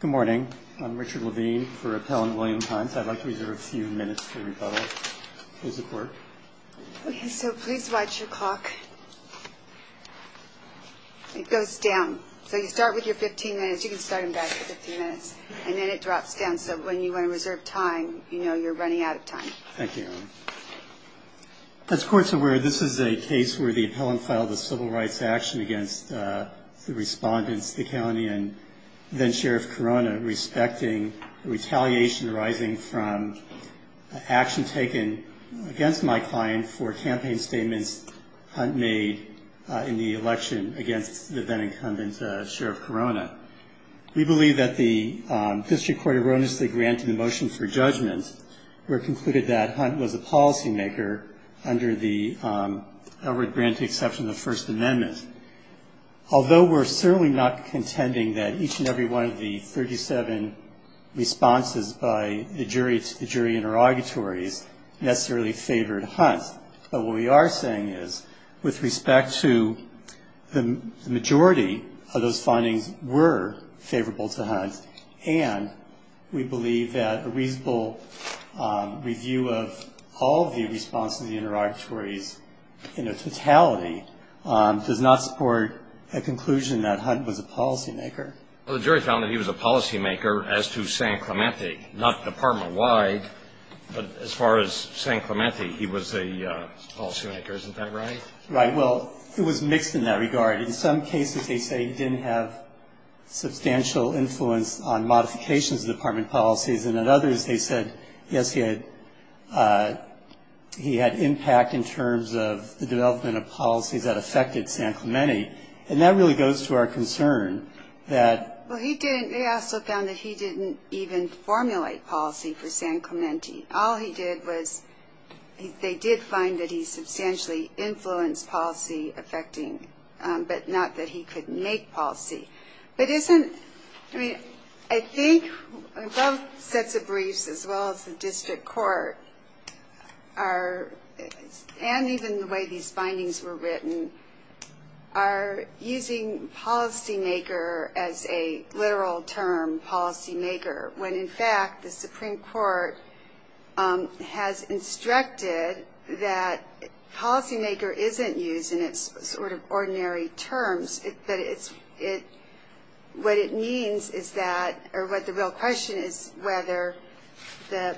Good morning. I'm Richard Levine for Appellant William Hunt. I'd like to reserve a few minutes for rebuttal. So please watch your clock. It goes down. So you start with your 15 minutes. You can start them back at 15 minutes. And then it drops down. So when you want to reserve time, you know you're running out of time. Thank you. As courts are aware, this is a case where the appellant filed a civil rights action against the respondents, the county, and then-Sheriff Corona, respecting retaliation arising from action taken against my client for campaign statements Hunt made in the election against the then-incumbent Sheriff Corona. We believe that the district court erroneously granted the motion for judgment, where it concluded that Hunt was a policymaker under the Edward Grant exception of the First Amendment. Although we're certainly not contending that each and every one of the 37 responses by the jury interrogatories necessarily favored Hunt, but what we are saying is with respect to the majority of those findings were favorable to Hunt, and we believe that a reasonable review of all of the responses to the interrogatories in their totality does not support a conclusion that Hunt was a policymaker. Well, the jury found that he was a policymaker as to San Clemente, not department-wide, but as far as San Clemente, he was a policymaker. Isn't that right? Right. Well, it was mixed in that regard. In some cases they say he didn't have substantial influence on modifications of department policies, and in others they said, yes, he had impact in terms of the development of policies that affected San Clemente, and that really goes to our concern that- Well, he didn't-they also found that he didn't even formulate policy for San Clemente. All he did was they did find that he substantially influenced policy-affecting, but not that he could make policy. But isn't-I mean, I think both sets of briefs as well as the district court are-and even the way these findings were written- are using policymaker as a literal term, policymaker, when in fact the Supreme Court has instructed that policymaker isn't used in its sort of ordinary terms, but it's-what it means is that-or what the real question is whether the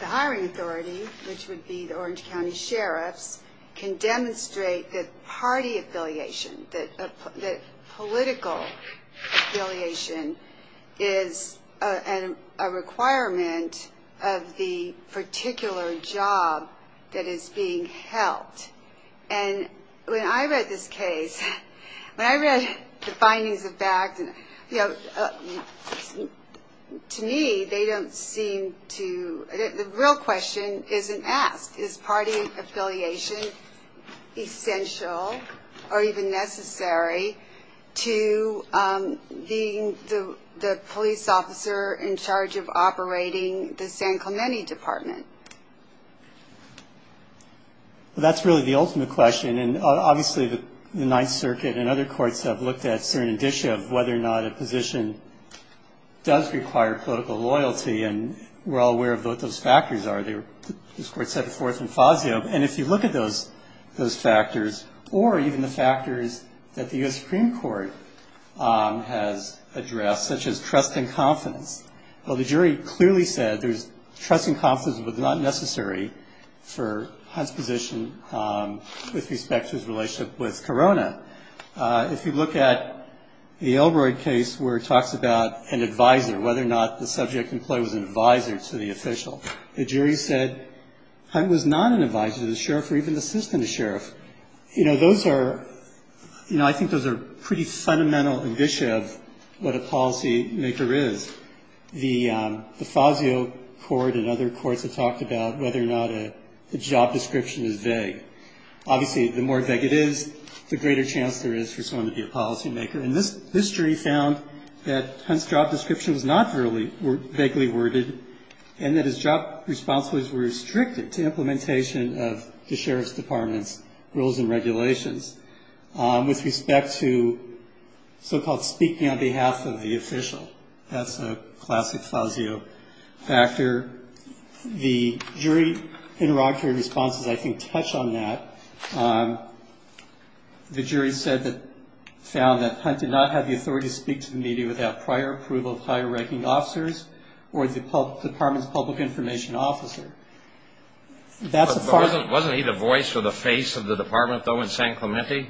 hiring authority, which would be the Orange County sheriffs, can demonstrate that party affiliation, that political affiliation is a requirement of the particular job that is being held. And when I read this case, when I read the findings of fact, you know, to me they don't seem to- the real question isn't asked. Is party affiliation essential or even necessary to being the police officer in charge of operating the San Clemente Department? Well, that's really the ultimate question, and obviously the Ninth Circuit and other courts have looked at certain indicia of whether or not a position does require political loyalty, and we're all aware of what those factors are. This Court set it forth in Fazio, and if you look at those factors, or even the factors that the U.S. Supreme Court has addressed, such as trust and confidence, well, the jury clearly said trust and confidence was not necessary for Hunt's position with respect to his relationship with Corona. If you look at the Elroy case where it talks about an advisor, whether or not the subject in play was an advisor to the official, the jury said Hunt was not an advisor to the sheriff or even assistant to the sheriff. You know, those are, you know, I think those are pretty fundamental indicia of what a policymaker is. The Fazio court and other courts have talked about whether or not a job description is vague. Obviously, the more vague it is, the greater chance there is for someone to be a policymaker, and this jury found that Hunt's job description was not vaguely worded and that his job responsibilities were restricted to implementation of the sheriff's department's rules and regulations. With respect to so-called speaking on behalf of the official, that's a classic Fazio factor. The jury interrogatory responses, I think, touch on that. The jury said that, found that Hunt did not have the authority to speak to the media without prior approval of higher ranking officers or the department's public information officer. That's a far- Wasn't he the voice or the face of the department, though, in San Clemente?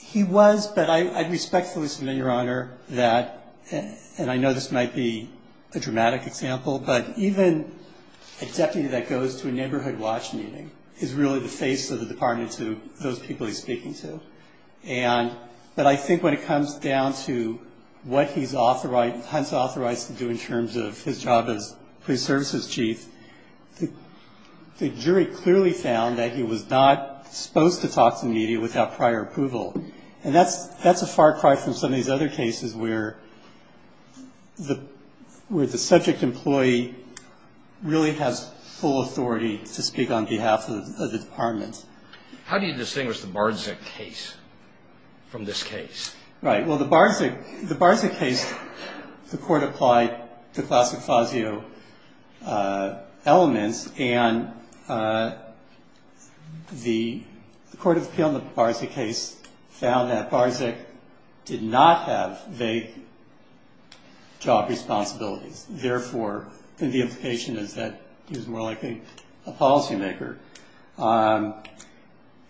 He was, but I respectfully submit, Your Honor, that, and I know this might be a dramatic example, but even a deputy that goes to a neighborhood watch meeting is really the face of the department to those people he's speaking to. And, but I think when it comes down to what he's authorized, Hunt's authorized to do in terms of his job as police services chief, the jury clearly found that he was not supposed to talk to media without prior approval. And that's a far cry from some of these other cases where the subject employee really has full authority to speak on behalf of the department. How do you distinguish the Barczyk case from this case? Right. Well, the Barczyk, the Barczyk case, the court applied the classic Fazio elements, and the court of appeal in the Barczyk case found that Barczyk did not have vague job responsibilities. Therefore, the implication is that he was more likely a policymaker.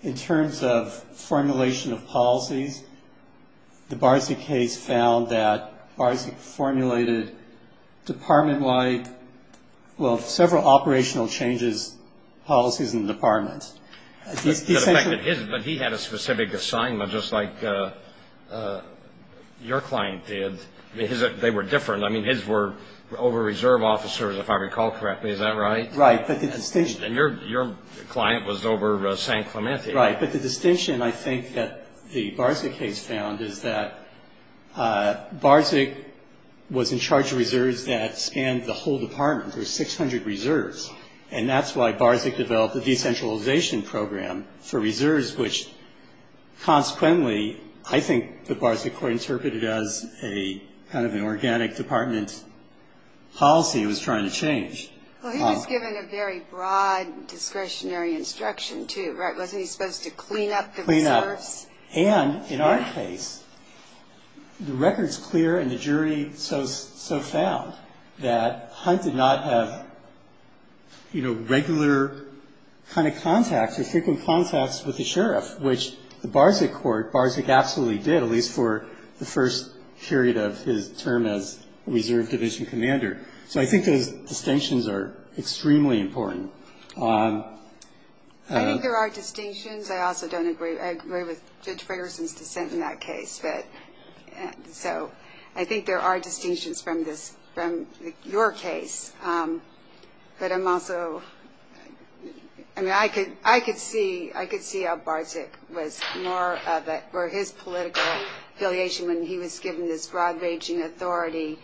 In terms of formulation of policies, the Barczyk case found that Barczyk formulated department-wide, well, several operational changes, policies in the department. But he had a specific assignment, just like your client did. They were different. I mean, his were over-reserve officers, if I recall correctly. Is that right? Right. And your client was over St. Clemente. Right. But the distinction, I think, that the Barczyk case found is that Barczyk was in charge of reserves that spanned the whole department. There were 600 reserves. And that's why Barczyk developed a decentralization program for reserves, which consequently I think the Barczyk court interpreted as a kind of an organic department policy it was trying to change. Well, he was given a very broad discretionary instruction, too, right? Wasn't he supposed to clean up the reserves? Clean up. And in our case, the record's clear and the jury so found that Hunt did not have, you know, regular kind of contacts or frequent contacts with the sheriff, which the Barczyk court, Barczyk absolutely did, at least for the first period of his term as reserve division commander. So I think those distinctions are extremely important. I think there are distinctions. I also don't agree. I agree with Judge Fragerson's dissent in that case. So I think there are distinctions from this, from your case. But I'm also, I mean, I could see how Barczyk was more of a, or his political affiliation when he was given this broad-ranging authority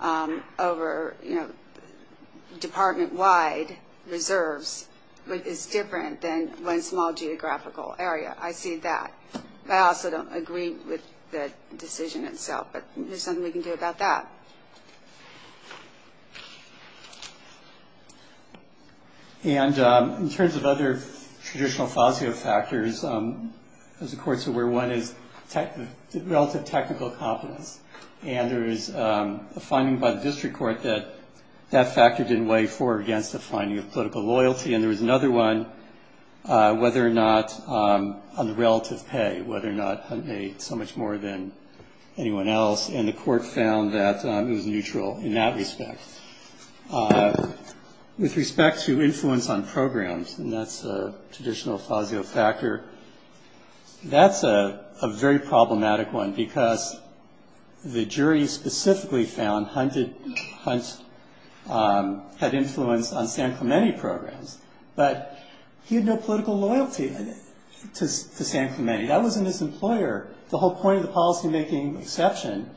over, you know, department-wide reserves is different than one small geographical area. I see that. I also don't agree with the decision itself. But there's something we can do about that. And in terms of other traditional FASIO factors, as the courts are aware, one is relative technical competence. And there is a finding by the district court that that factor didn't weigh for or against the finding of political loyalty. And there was another one, whether or not on relative pay, whether or not Hunt made so much more than anyone else. And the court found that it was neutral in that respect. With respect to influence on programs, and that's a traditional FASIO factor, that's a very problematic one because the jury specifically found Hunt had influence on San Clemente programs. But he had no political loyalty to San Clemente. That wasn't his employer. The whole point of the policy-making exception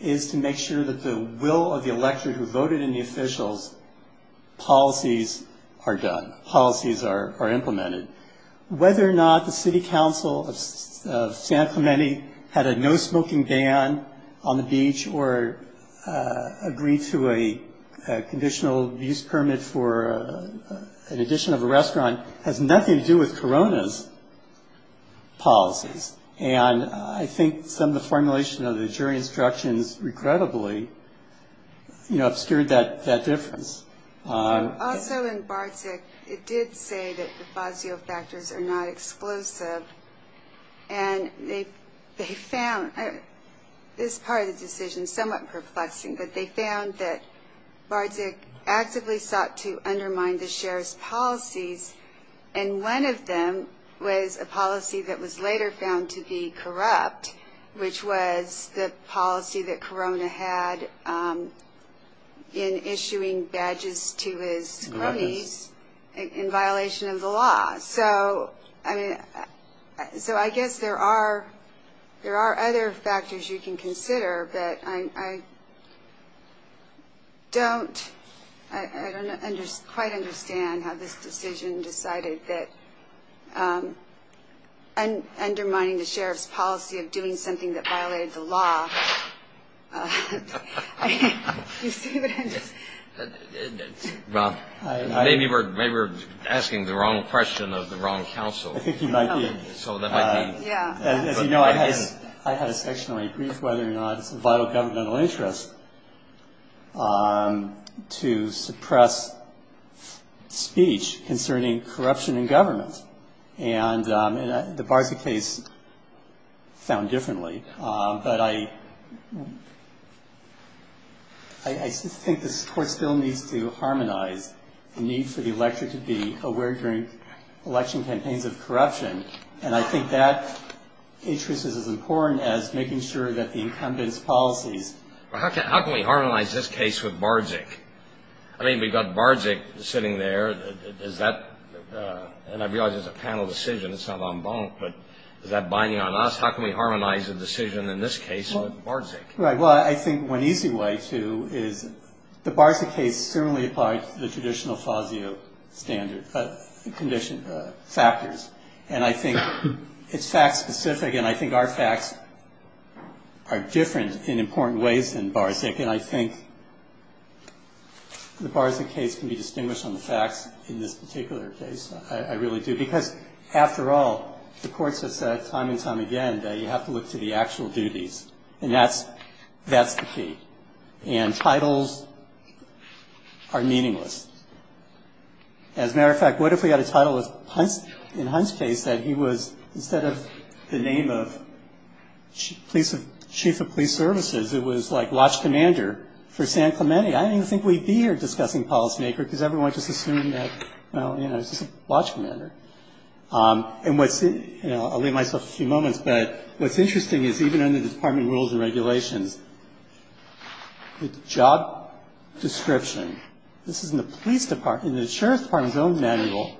is to make sure that the will of the electorate who voted in the officials' policies are done, policies are implemented. Whether or not the city council of San Clemente had a no-smoking ban on the beach or agreed to a conditional abuse permit for an addition of a restaurant has nothing to do with Corona's policies. And I think some of the formulation of the jury instructions, regrettably, obscured that difference. Also in Bardzig, it did say that the FASIO factors are not exclusive. And they found this part of the decision somewhat perplexing, that they found that Bardzig actively sought to undermine the sheriff's policies. And one of them was a policy that was later found to be corrupt, which was the policy that Corona had in issuing badges to his cronies in violation of the law. So I guess there are other factors you can consider, but I don't quite understand how this decision decided that undermining the sheriff's policy of doing something that violated the law. Maybe we're asking the wrong question of the wrong council. I think you might be. So that might be. I had a section where I briefed whether or not it's a vital governmental interest to suppress speech concerning corruption in government. And the Bardzig case found differently. But I think the court still needs to harmonize the need for the electorate to be aware during election campaigns of corruption. And I think that interest is as important as making sure that the incumbent's policies. Well, how can we harmonize this case with Bardzig? I mean, we've got Bardzig sitting there. Is that – and I realize it's a panel decision. It's not en banc, but is that binding on us? How can we harmonize the decision in this case with Bardzig? Right. Well, I think one easy way to is the Bardzig case similarly applied to the traditional FASIO standard condition – factors. And I think it's fact-specific, and I think our facts are different in important ways than Bardzig. And I think the Bardzig case can be distinguished on the facts in this particular case. I really do. Because, after all, the courts have said time and time again that you have to look to the actual duties. And that's the key. And titles are meaningless. As a matter of fact, what if we had a title in Hunt's case that he was, instead of the name of chief of police services, it was like watch commander for San Clemente? I don't even think we'd be here discussing policymaker because everyone just assumed that, well, you know, he's just a watch commander. And what's – I'll leave myself a few moments, but what's interesting is even under the department rules and regulations, the job description, this is in the police department, in the sheriff's department's own manual,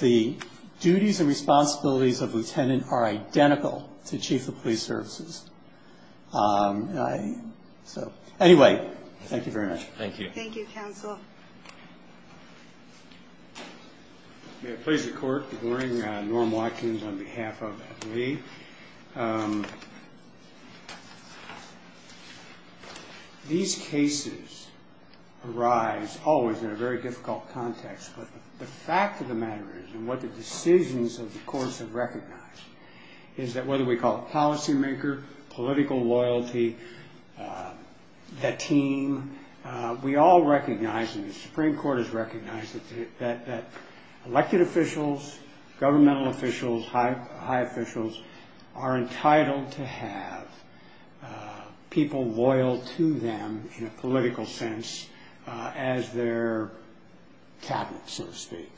the duties and responsibilities of lieutenant are identical to chief of police services. So, anyway, thank you very much. Thank you. Thank you, counsel. May it please the court. Warren Watkins on behalf of Lee. These cases arise always in a very difficult context, but the fact of the matter is, and what the decisions of the courts have recognized, is that whether we call it policymaker, political loyalty, the team, we all recognize and the Supreme Court has recognized that elected officials, governmental officials, high officials are entitled to have people loyal to them in a political sense as their cabinets, so to speak.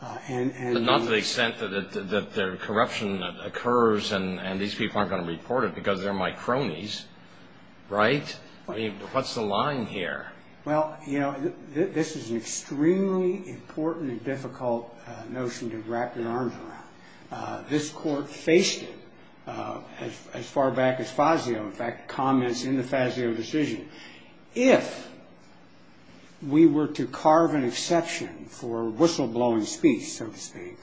But not to the extent that their corruption occurs and these people aren't going to report it because they're my cronies, right? I mean, what's the line here? Well, you know, this is an extremely important and difficult notion to wrap your arms around. This court faced it as far back as Fazio, in fact, comments in the Fazio decision. If we were to carve an exception for whistleblowing speech, so to speak,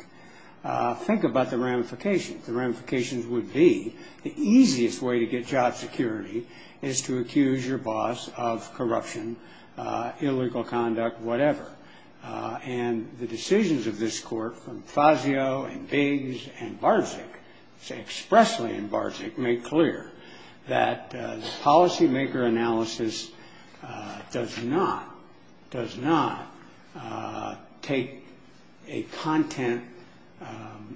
think about the ramifications. The ramifications would be the easiest way to get job security is to accuse your boss of corruption, illegal conduct, whatever. And the decisions of this court from Fazio and Biggs and Barczyk, expressly in Barczyk, made clear that the policymaker analysis does not take a content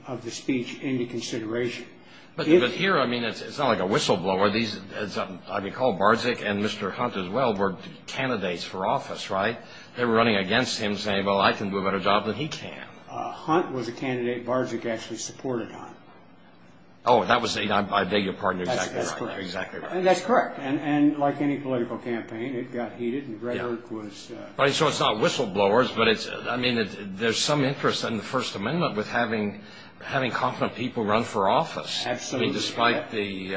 of the speech into consideration. But here, I mean, it's not like a whistleblower. I recall Barczyk and Mr. Hunt as well were candidates for office, right? They were running against him saying, well, I can do a better job than he can. Hunt was a candidate Barczyk actually supported on. Oh, that was, I beg your pardon, exactly right. That's correct. Exactly right. And that's correct. And like any political campaign, it got heated and rhetoric was... Right, so it's not whistleblowers, but it's, I mean, there's some interest in the First Amendment with having confident people run for office. Absolutely. I mean, despite the,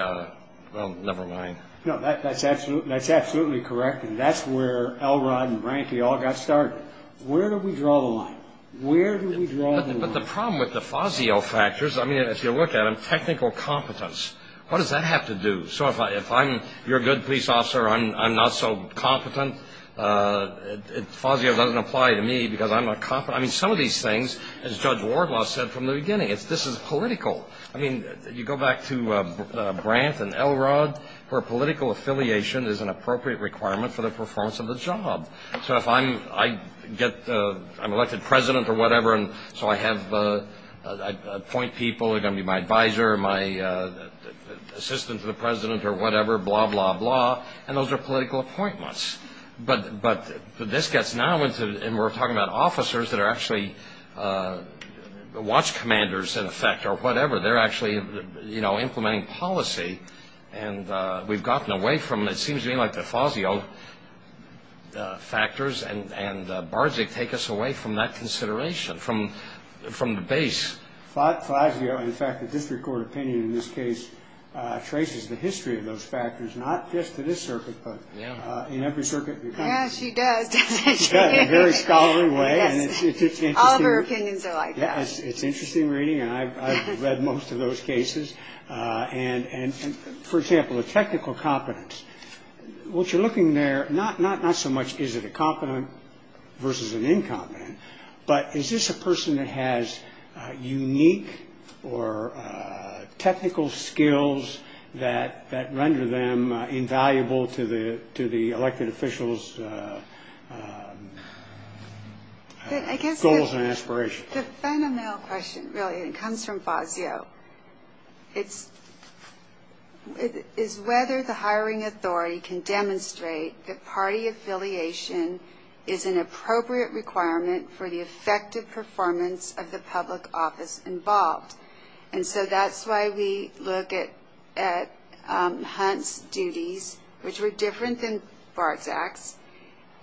well, never mind. No, that's absolutely correct. And that's where Elrod and Branky all got started. Where do we draw the line? Where do we draw the line? But the problem with the Fazio factors, I mean, if you look at them, technical competence. What does that have to do? So if I'm your good police officer, I'm not so competent. Fazio doesn't apply to me because I'm not competent. I mean, some of these things, as Judge Wardlaw said from the beginning, this is political. I mean, you go back to Brant and Elrod, where political affiliation is an appropriate requirement for the performance of the job. So if I'm elected president or whatever, and so I appoint people who are going to be my advisor, my assistant to the president or whatever, blah, blah, blah, and those are political appointments. But this gets now into, and we're talking about officers that are actually watch commanders, in effect, or whatever. They're actually implementing policy. And we've gotten away from it. It seems to me like the Fazio factors and Barczyk take us away from that consideration, from the base. Fazio, in fact, the district court opinion in this case, traces the history of those factors, not just to this circuit, but in every circuit. Yeah, she does, doesn't she? In a very scholarly way. All of her opinions are like that. It's interesting reading, and I've read most of those cases. And, for example, the technical competence, what you're looking there, not so much is it a competent versus an incompetent, but is this a person that has unique or technical skills that render them invaluable to the elected officials' goals and aspirations? The phenomenal question, really, and it comes from Fazio, is whether the hiring authority can demonstrate that party affiliation is an appropriate requirement for the effective performance of the public office involved. And so that's why we look at Hunt's duties, which were different than Barczyk's,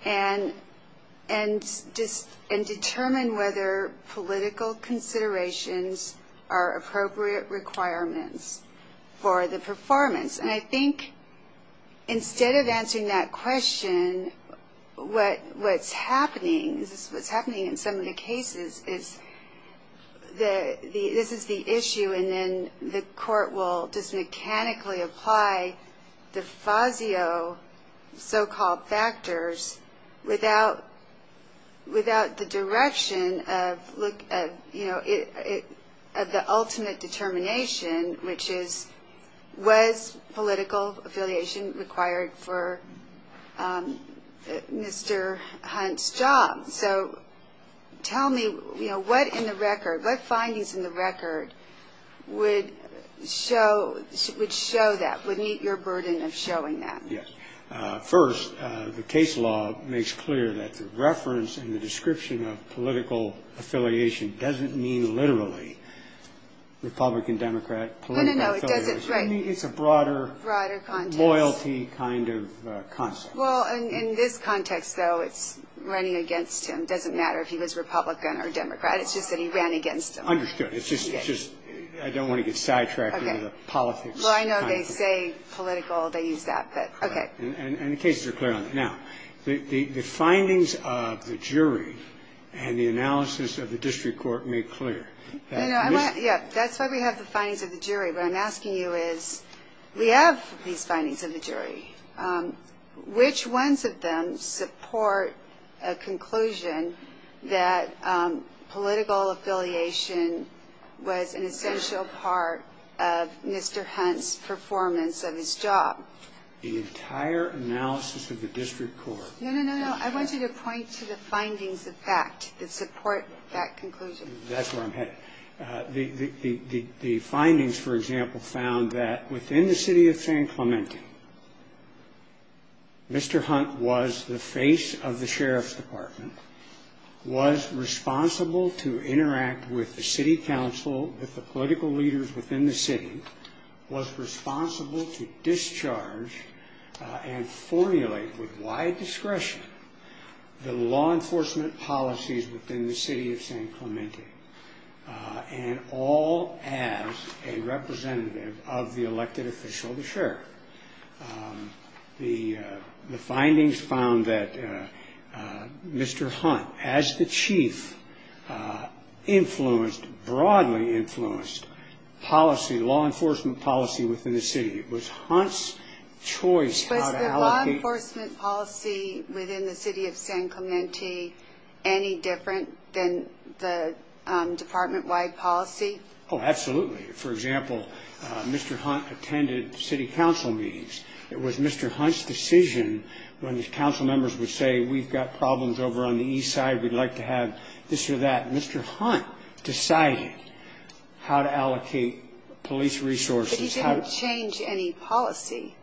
and determine whether political considerations are appropriate requirements for the performance. And I think instead of answering that question, what's happening, in some of the cases, is this is the issue, and then the court will just mechanically apply the Fazio so-called factors without the direction of the ultimate determination, which is, was political affiliation required for Mr. Hunt's job? So tell me, you know, what in the record, what findings in the record would show that, would meet your burden of showing that? Yes. First, the case law makes clear that the reference in the description of political affiliation doesn't mean literally Republican-Democrat political affiliation. No, no, no, it doesn't. Right. It's a broader loyalty kind of concept. Well, in this context, though, it's running against him. It doesn't matter if he was Republican or Democrat. It's just that he ran against him. Understood. It's just I don't want to get sidetracked into politics. Okay. Well, I know they say political, they use that, but okay. Correct. And the cases are clear on that. Now, the findings of the jury and the analysis of the district court make clear. No, no. Yeah, that's why we have the findings of the jury. What I'm asking you is we have these findings of the jury. Which ones of them support a conclusion that political affiliation was an essential part of Mr. Hunt's performance of his job? The entire analysis of the district court. No, no, no, no. I want you to point to the findings of fact that support that conclusion. That's where I'm headed. The findings, for example, found that within the city of San Clemente, Mr. Hunt was the face of the sheriff's department, was responsible to interact with the city council, with the political leaders within the city, was responsible to discharge and formulate with wide discretion the law enforcement policies within the city of San Clemente, and all as a representative of the elected official, the sheriff. The findings found that Mr. Hunt, as the chief, influenced, broadly influenced policy, law enforcement policy within the city. It was Hunt's choice. Was the law enforcement policy within the city of San Clemente any different than the department-wide policy? Oh, absolutely. For example, Mr. Hunt attended city council meetings. It was Mr. Hunt's decision when the council members would say, we've got problems over on the east side. We'd like to have this or that. Mr. Hunt decided how to allocate police resources. But he didn't change any policy.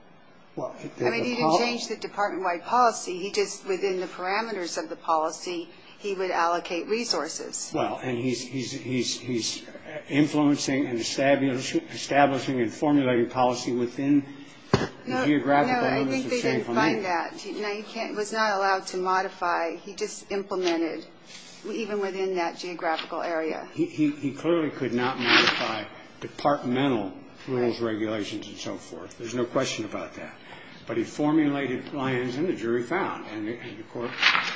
I mean, he didn't change the department-wide policy. He just, within the parameters of the policy, he would allocate resources. Well, and he's influencing and establishing and formulating policy within the geographic areas of San Clemente. No, I think they didn't find that. He was not allowed to modify. He just implemented, even within that geographical area. He clearly could not modify departmental rules, regulations, and so forth. There's no question about that. But he formulated plans, and the jury found. And the court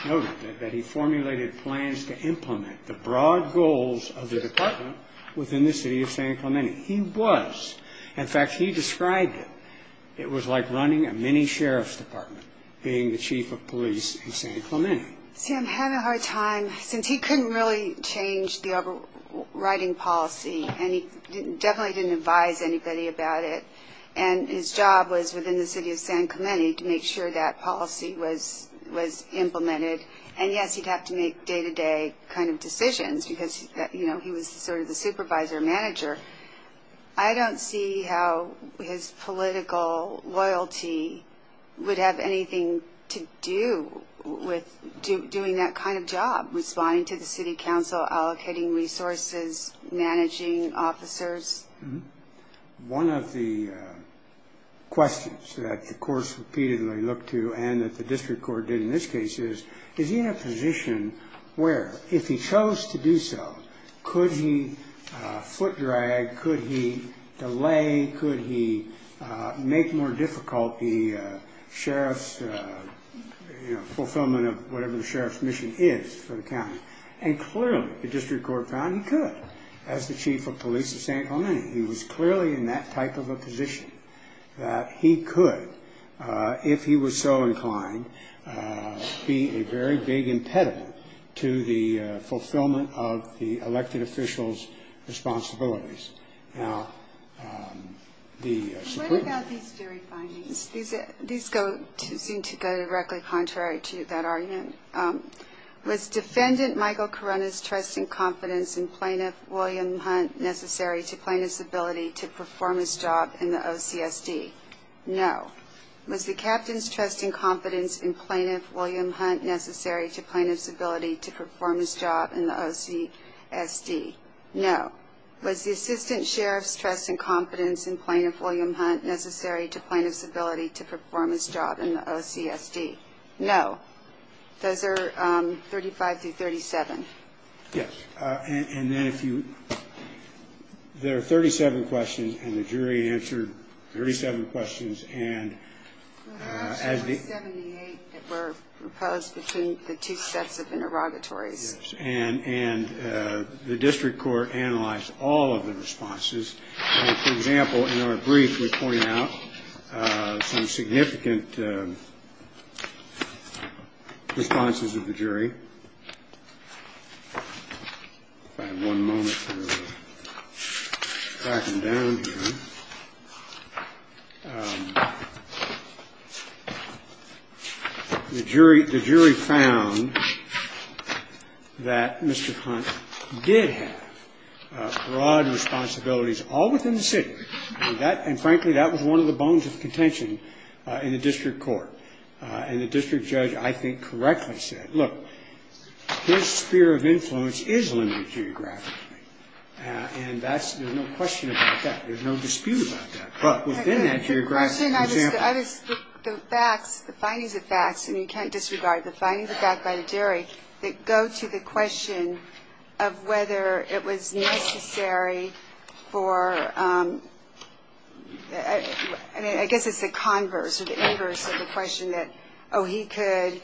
noted that he formulated plans to implement the broad goals of the department within the city of San Clemente. He was. In fact, he described it. It was like running a mini-sheriff's department, being the chief of police in San Clemente. Sam had a hard time, since he couldn't really change the overriding policy. And he definitely didn't advise anybody about it. And his job was, within the city of San Clemente, to make sure that policy was implemented. And, yes, he'd have to make day-to-day kind of decisions, because, you know, he was sort of the supervisor, manager. I don't see how his political loyalty would have anything to do with doing that kind of job, responding to the city council, allocating resources, managing officers. One of the questions that the courts repeatedly looked to, and that the district court did in this case, is, is he in a position where, if he chose to do so, could he foot drag, could he delay, could he make more difficult the sheriff's, you know, fulfillment of whatever the sheriff's mission is for the county? And, clearly, the district court found he could, as the chief of police of San Clemente. He was clearly in that type of a position, that he could, if he was so inclined, be a very big impediment to the fulfillment of the elected official's responsibilities. Now, the Supreme Court... What about these jury findings? These seem to go directly contrary to that argument. Was defendant Michael Karuna's trust and confidence in plaintiff William Hunt necessary to plaintiff's ability to perform his job in the OCSD? No. Was the captain's trust and confidence in plaintiff William Hunt necessary to plaintiff's ability to perform his job in the OCSD? No. Was the assistant sheriff's trust and confidence in plaintiff William Hunt necessary to plaintiff's ability to perform his job in the OCSD? No. Those are 35 through 37. Yes. And then if you – there are 37 questions, and the jury answered 37 questions, and as the – There were 78 that were proposed between the two sets of interrogatories. Yes. And the district court analyzed all of the responses. And, for example, in our brief, we point out some significant responses of the jury. If I have one moment to back them down here. The jury found that Mr. Hunt did have broad responsibilities all within the city. And that – and, frankly, that was one of the bones of contention in the district court. And the district judge, I think, correctly said, look, his sphere of influence is limited geographically. And that's – there's no question about that. There's no dispute about that. But within that geographic – The question I was – the facts, the findings of facts, and you can't disregard the findings of facts by the jury, that go to the question of whether it was necessary for – I mean, I guess it's the converse or the inverse of the question that, oh, he could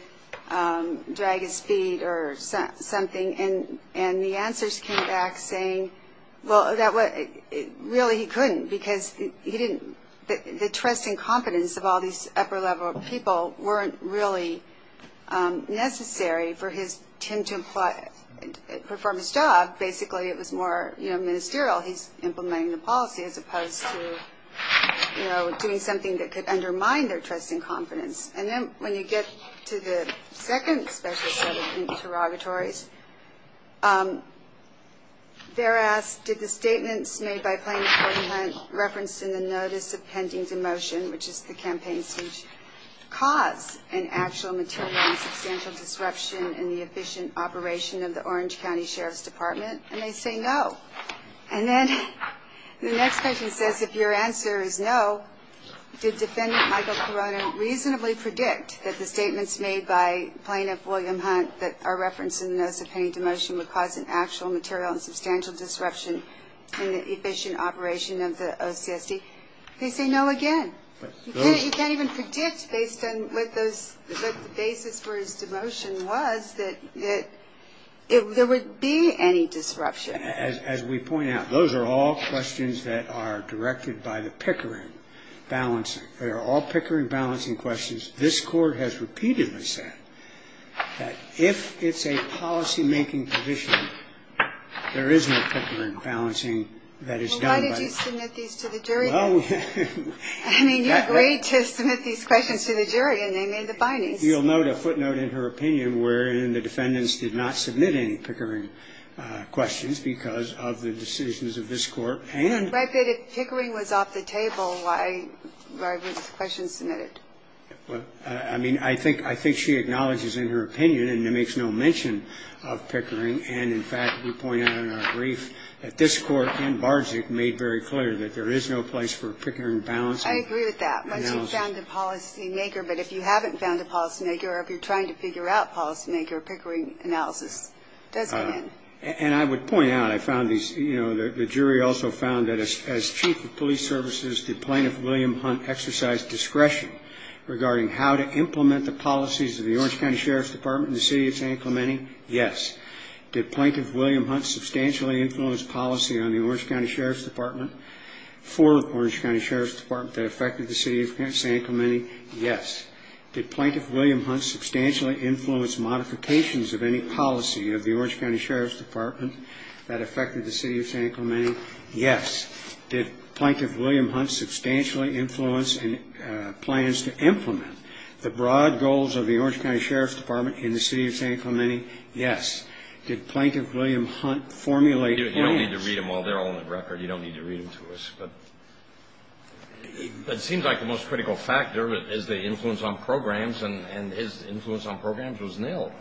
drag his feet or something. And the answers came back saying, well, really, he couldn't because he didn't – the trust and confidence of all these upper-level people weren't really necessary for him to perform his job. Basically, it was more ministerial. He's implementing the policy as opposed to doing something that could undermine their trust and confidence. And then when you get to the second special set of interrogatories, they're asked, did the statements made by Plaintiff Gordon Hunt referenced in the notice of pending demotion, which is the campaign speech, cause an actual material and substantial disruption in the efficient operation of the Orange County Sheriff's Department? And they say no. And then the next question says, if your answer is no, did Defendant Michael Corona reasonably predict that the statements made by Plaintiff William Hunt that are referenced in the notice of pending demotion would cause an actual material and substantial disruption in the efficient operation of the OCSD? They say no again. You can't even predict based on what the basis for his demotion was that there would be any disruption. As we point out, those are all questions that are directed by the Pickering balancing. They are all Pickering balancing questions. This Court has repeatedly said that if it's a policymaking position, there is no Pickering balancing that is done by the jury. Well, why did you submit these to the jury then? I mean, you agreed to submit these questions to the jury, and they made the bindings. You'll note a footnote in her opinion wherein the defendants did not submit any Pickering questions because of the decisions of this Court and... But if Pickering was off the table, why were these questions submitted? I mean, I think she acknowledges in her opinion, and it makes no mention of Pickering. And, in fact, we point out in our brief that this Court and Barczyk made very clear that there is no place for Pickering balancing. I agree with that. Once you've found a policymaker. But if you haven't found a policymaker or if you're trying to figure out a policymaker, Pickering analysis does begin. And I would point out, I found these, you know, the jury also found that as chief of police services, did Plaintiff William Hunt exercise discretion regarding how to implement the policies of the Orange County Sheriff's Department in the city of San Clemente? Yes. Did Plaintiff William Hunt substantially influence policy on the Orange County Sheriff's Department for the Orange County Sheriff's Department that affected the city of San Clemente? Yes. Did Plaintiff William Hunt substantially influence modifications of any policy of the Orange County Sheriff's Department that affected the city of San Clemente? Yes. Did Plaintiff William Hunt substantially influence plans to implement the broad goals of the Orange County Sheriff's Department in the city of San Clemente? Yes. Did Plaintiff William Hunt formulate plans... You don't need to read them all. They're all on the record. You don't need to read them to us. But it seems like the most critical factor is the influence on programs, and his influence on programs was nil.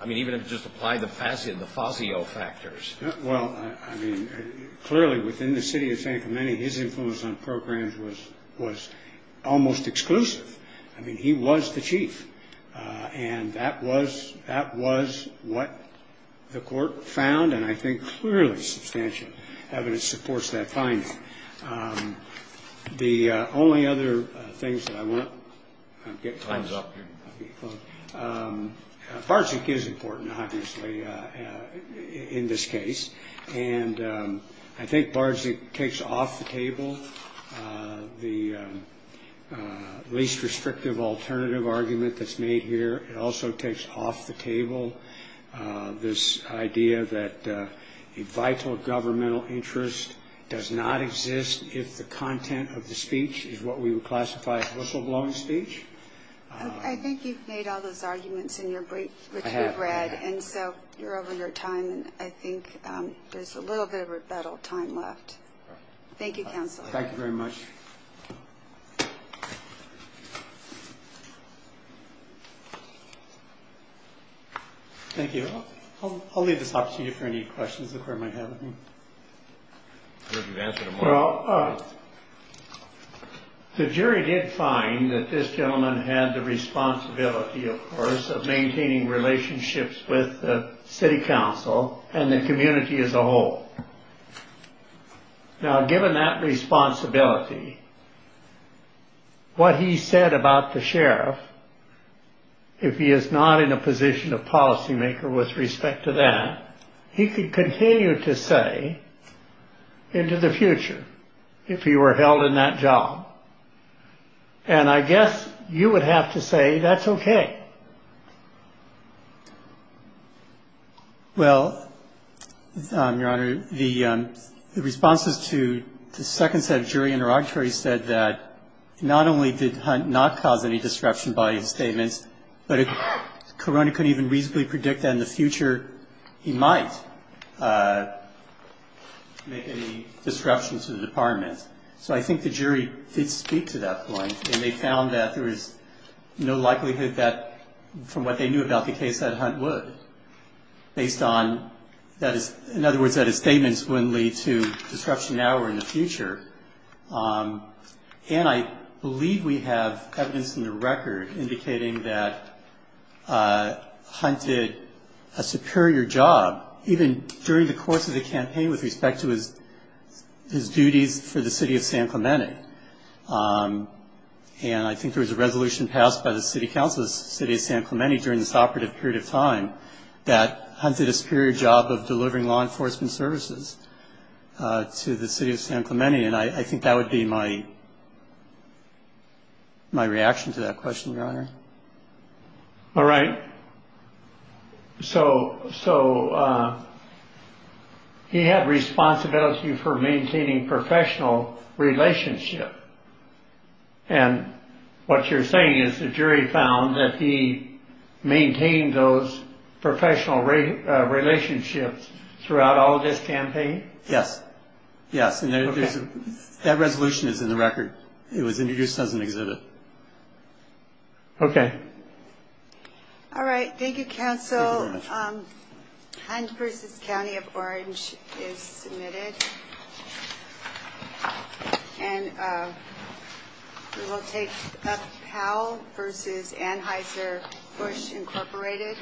I mean, even if you just apply the FASIO factors. Well, I mean, clearly within the city of San Clemente, his influence on programs was almost exclusive. I mean, he was the chief, and that was what the court found, and I think clearly substantial evidence supports that finding. The only other things that I want... Time's up here. Barczyk is important, obviously, in this case. And I think Barczyk takes off the table the least restrictive alternative argument that's made here. It also takes off the table this idea that a vital governmental interest does not exist if the content of the speech is what we would classify as whistleblowing speech. I think you've made all those arguments in your brief, which we've read. And so you're over your time, and I think there's a little bit of rebuttal time left. Thank you, counsel. Thank you very much. Thank you. I'll leave this opportunity for any questions the court might have. Well, the jury did find that this gentleman had the responsibility, of course, of maintaining relationships with the city council and the community as a whole. Now, given that responsibility, what he said about the sheriff, if he is not in a position of policymaker with respect to that, he could continue to say into the future if he were held in that job. And I guess you would have to say that's OK. Well, Your Honor, the responses to the second set of jury interrogatories said that not only did Hunt not cause any disruption by his statements, but if Corona couldn't even reasonably predict that in the future, he might make any disruption to the department. So I think the jury did speak to that point, and they found that there was no likelihood that, from what they knew about the case, that Hunt would, based on that. In other words, that his statements wouldn't lead to disruption now or in the future. And I believe we have evidence in the record indicating that Hunt did a superior job, even during the course of the campaign, with respect to his duties for the city of San Clemente. And I think there was a resolution passed by the city council, the city of San Clemente, during this operative period of time that Hunt did a superior job of delivering law enforcement services to the city of San Clemente. And I think that would be my reaction to that question, Your Honor. All right. So so he had responsibility for maintaining professional relationship. And what you're saying is the jury found that he maintained those professional relationships throughout all this campaign. Yes. Yes. And that resolution is in the record. It was introduced as an exhibit. OK. All right. Thank you, counsel. Hunt v. County of Orange is submitted. And we will take up Powell v. Anheuser-Busch, Incorporated.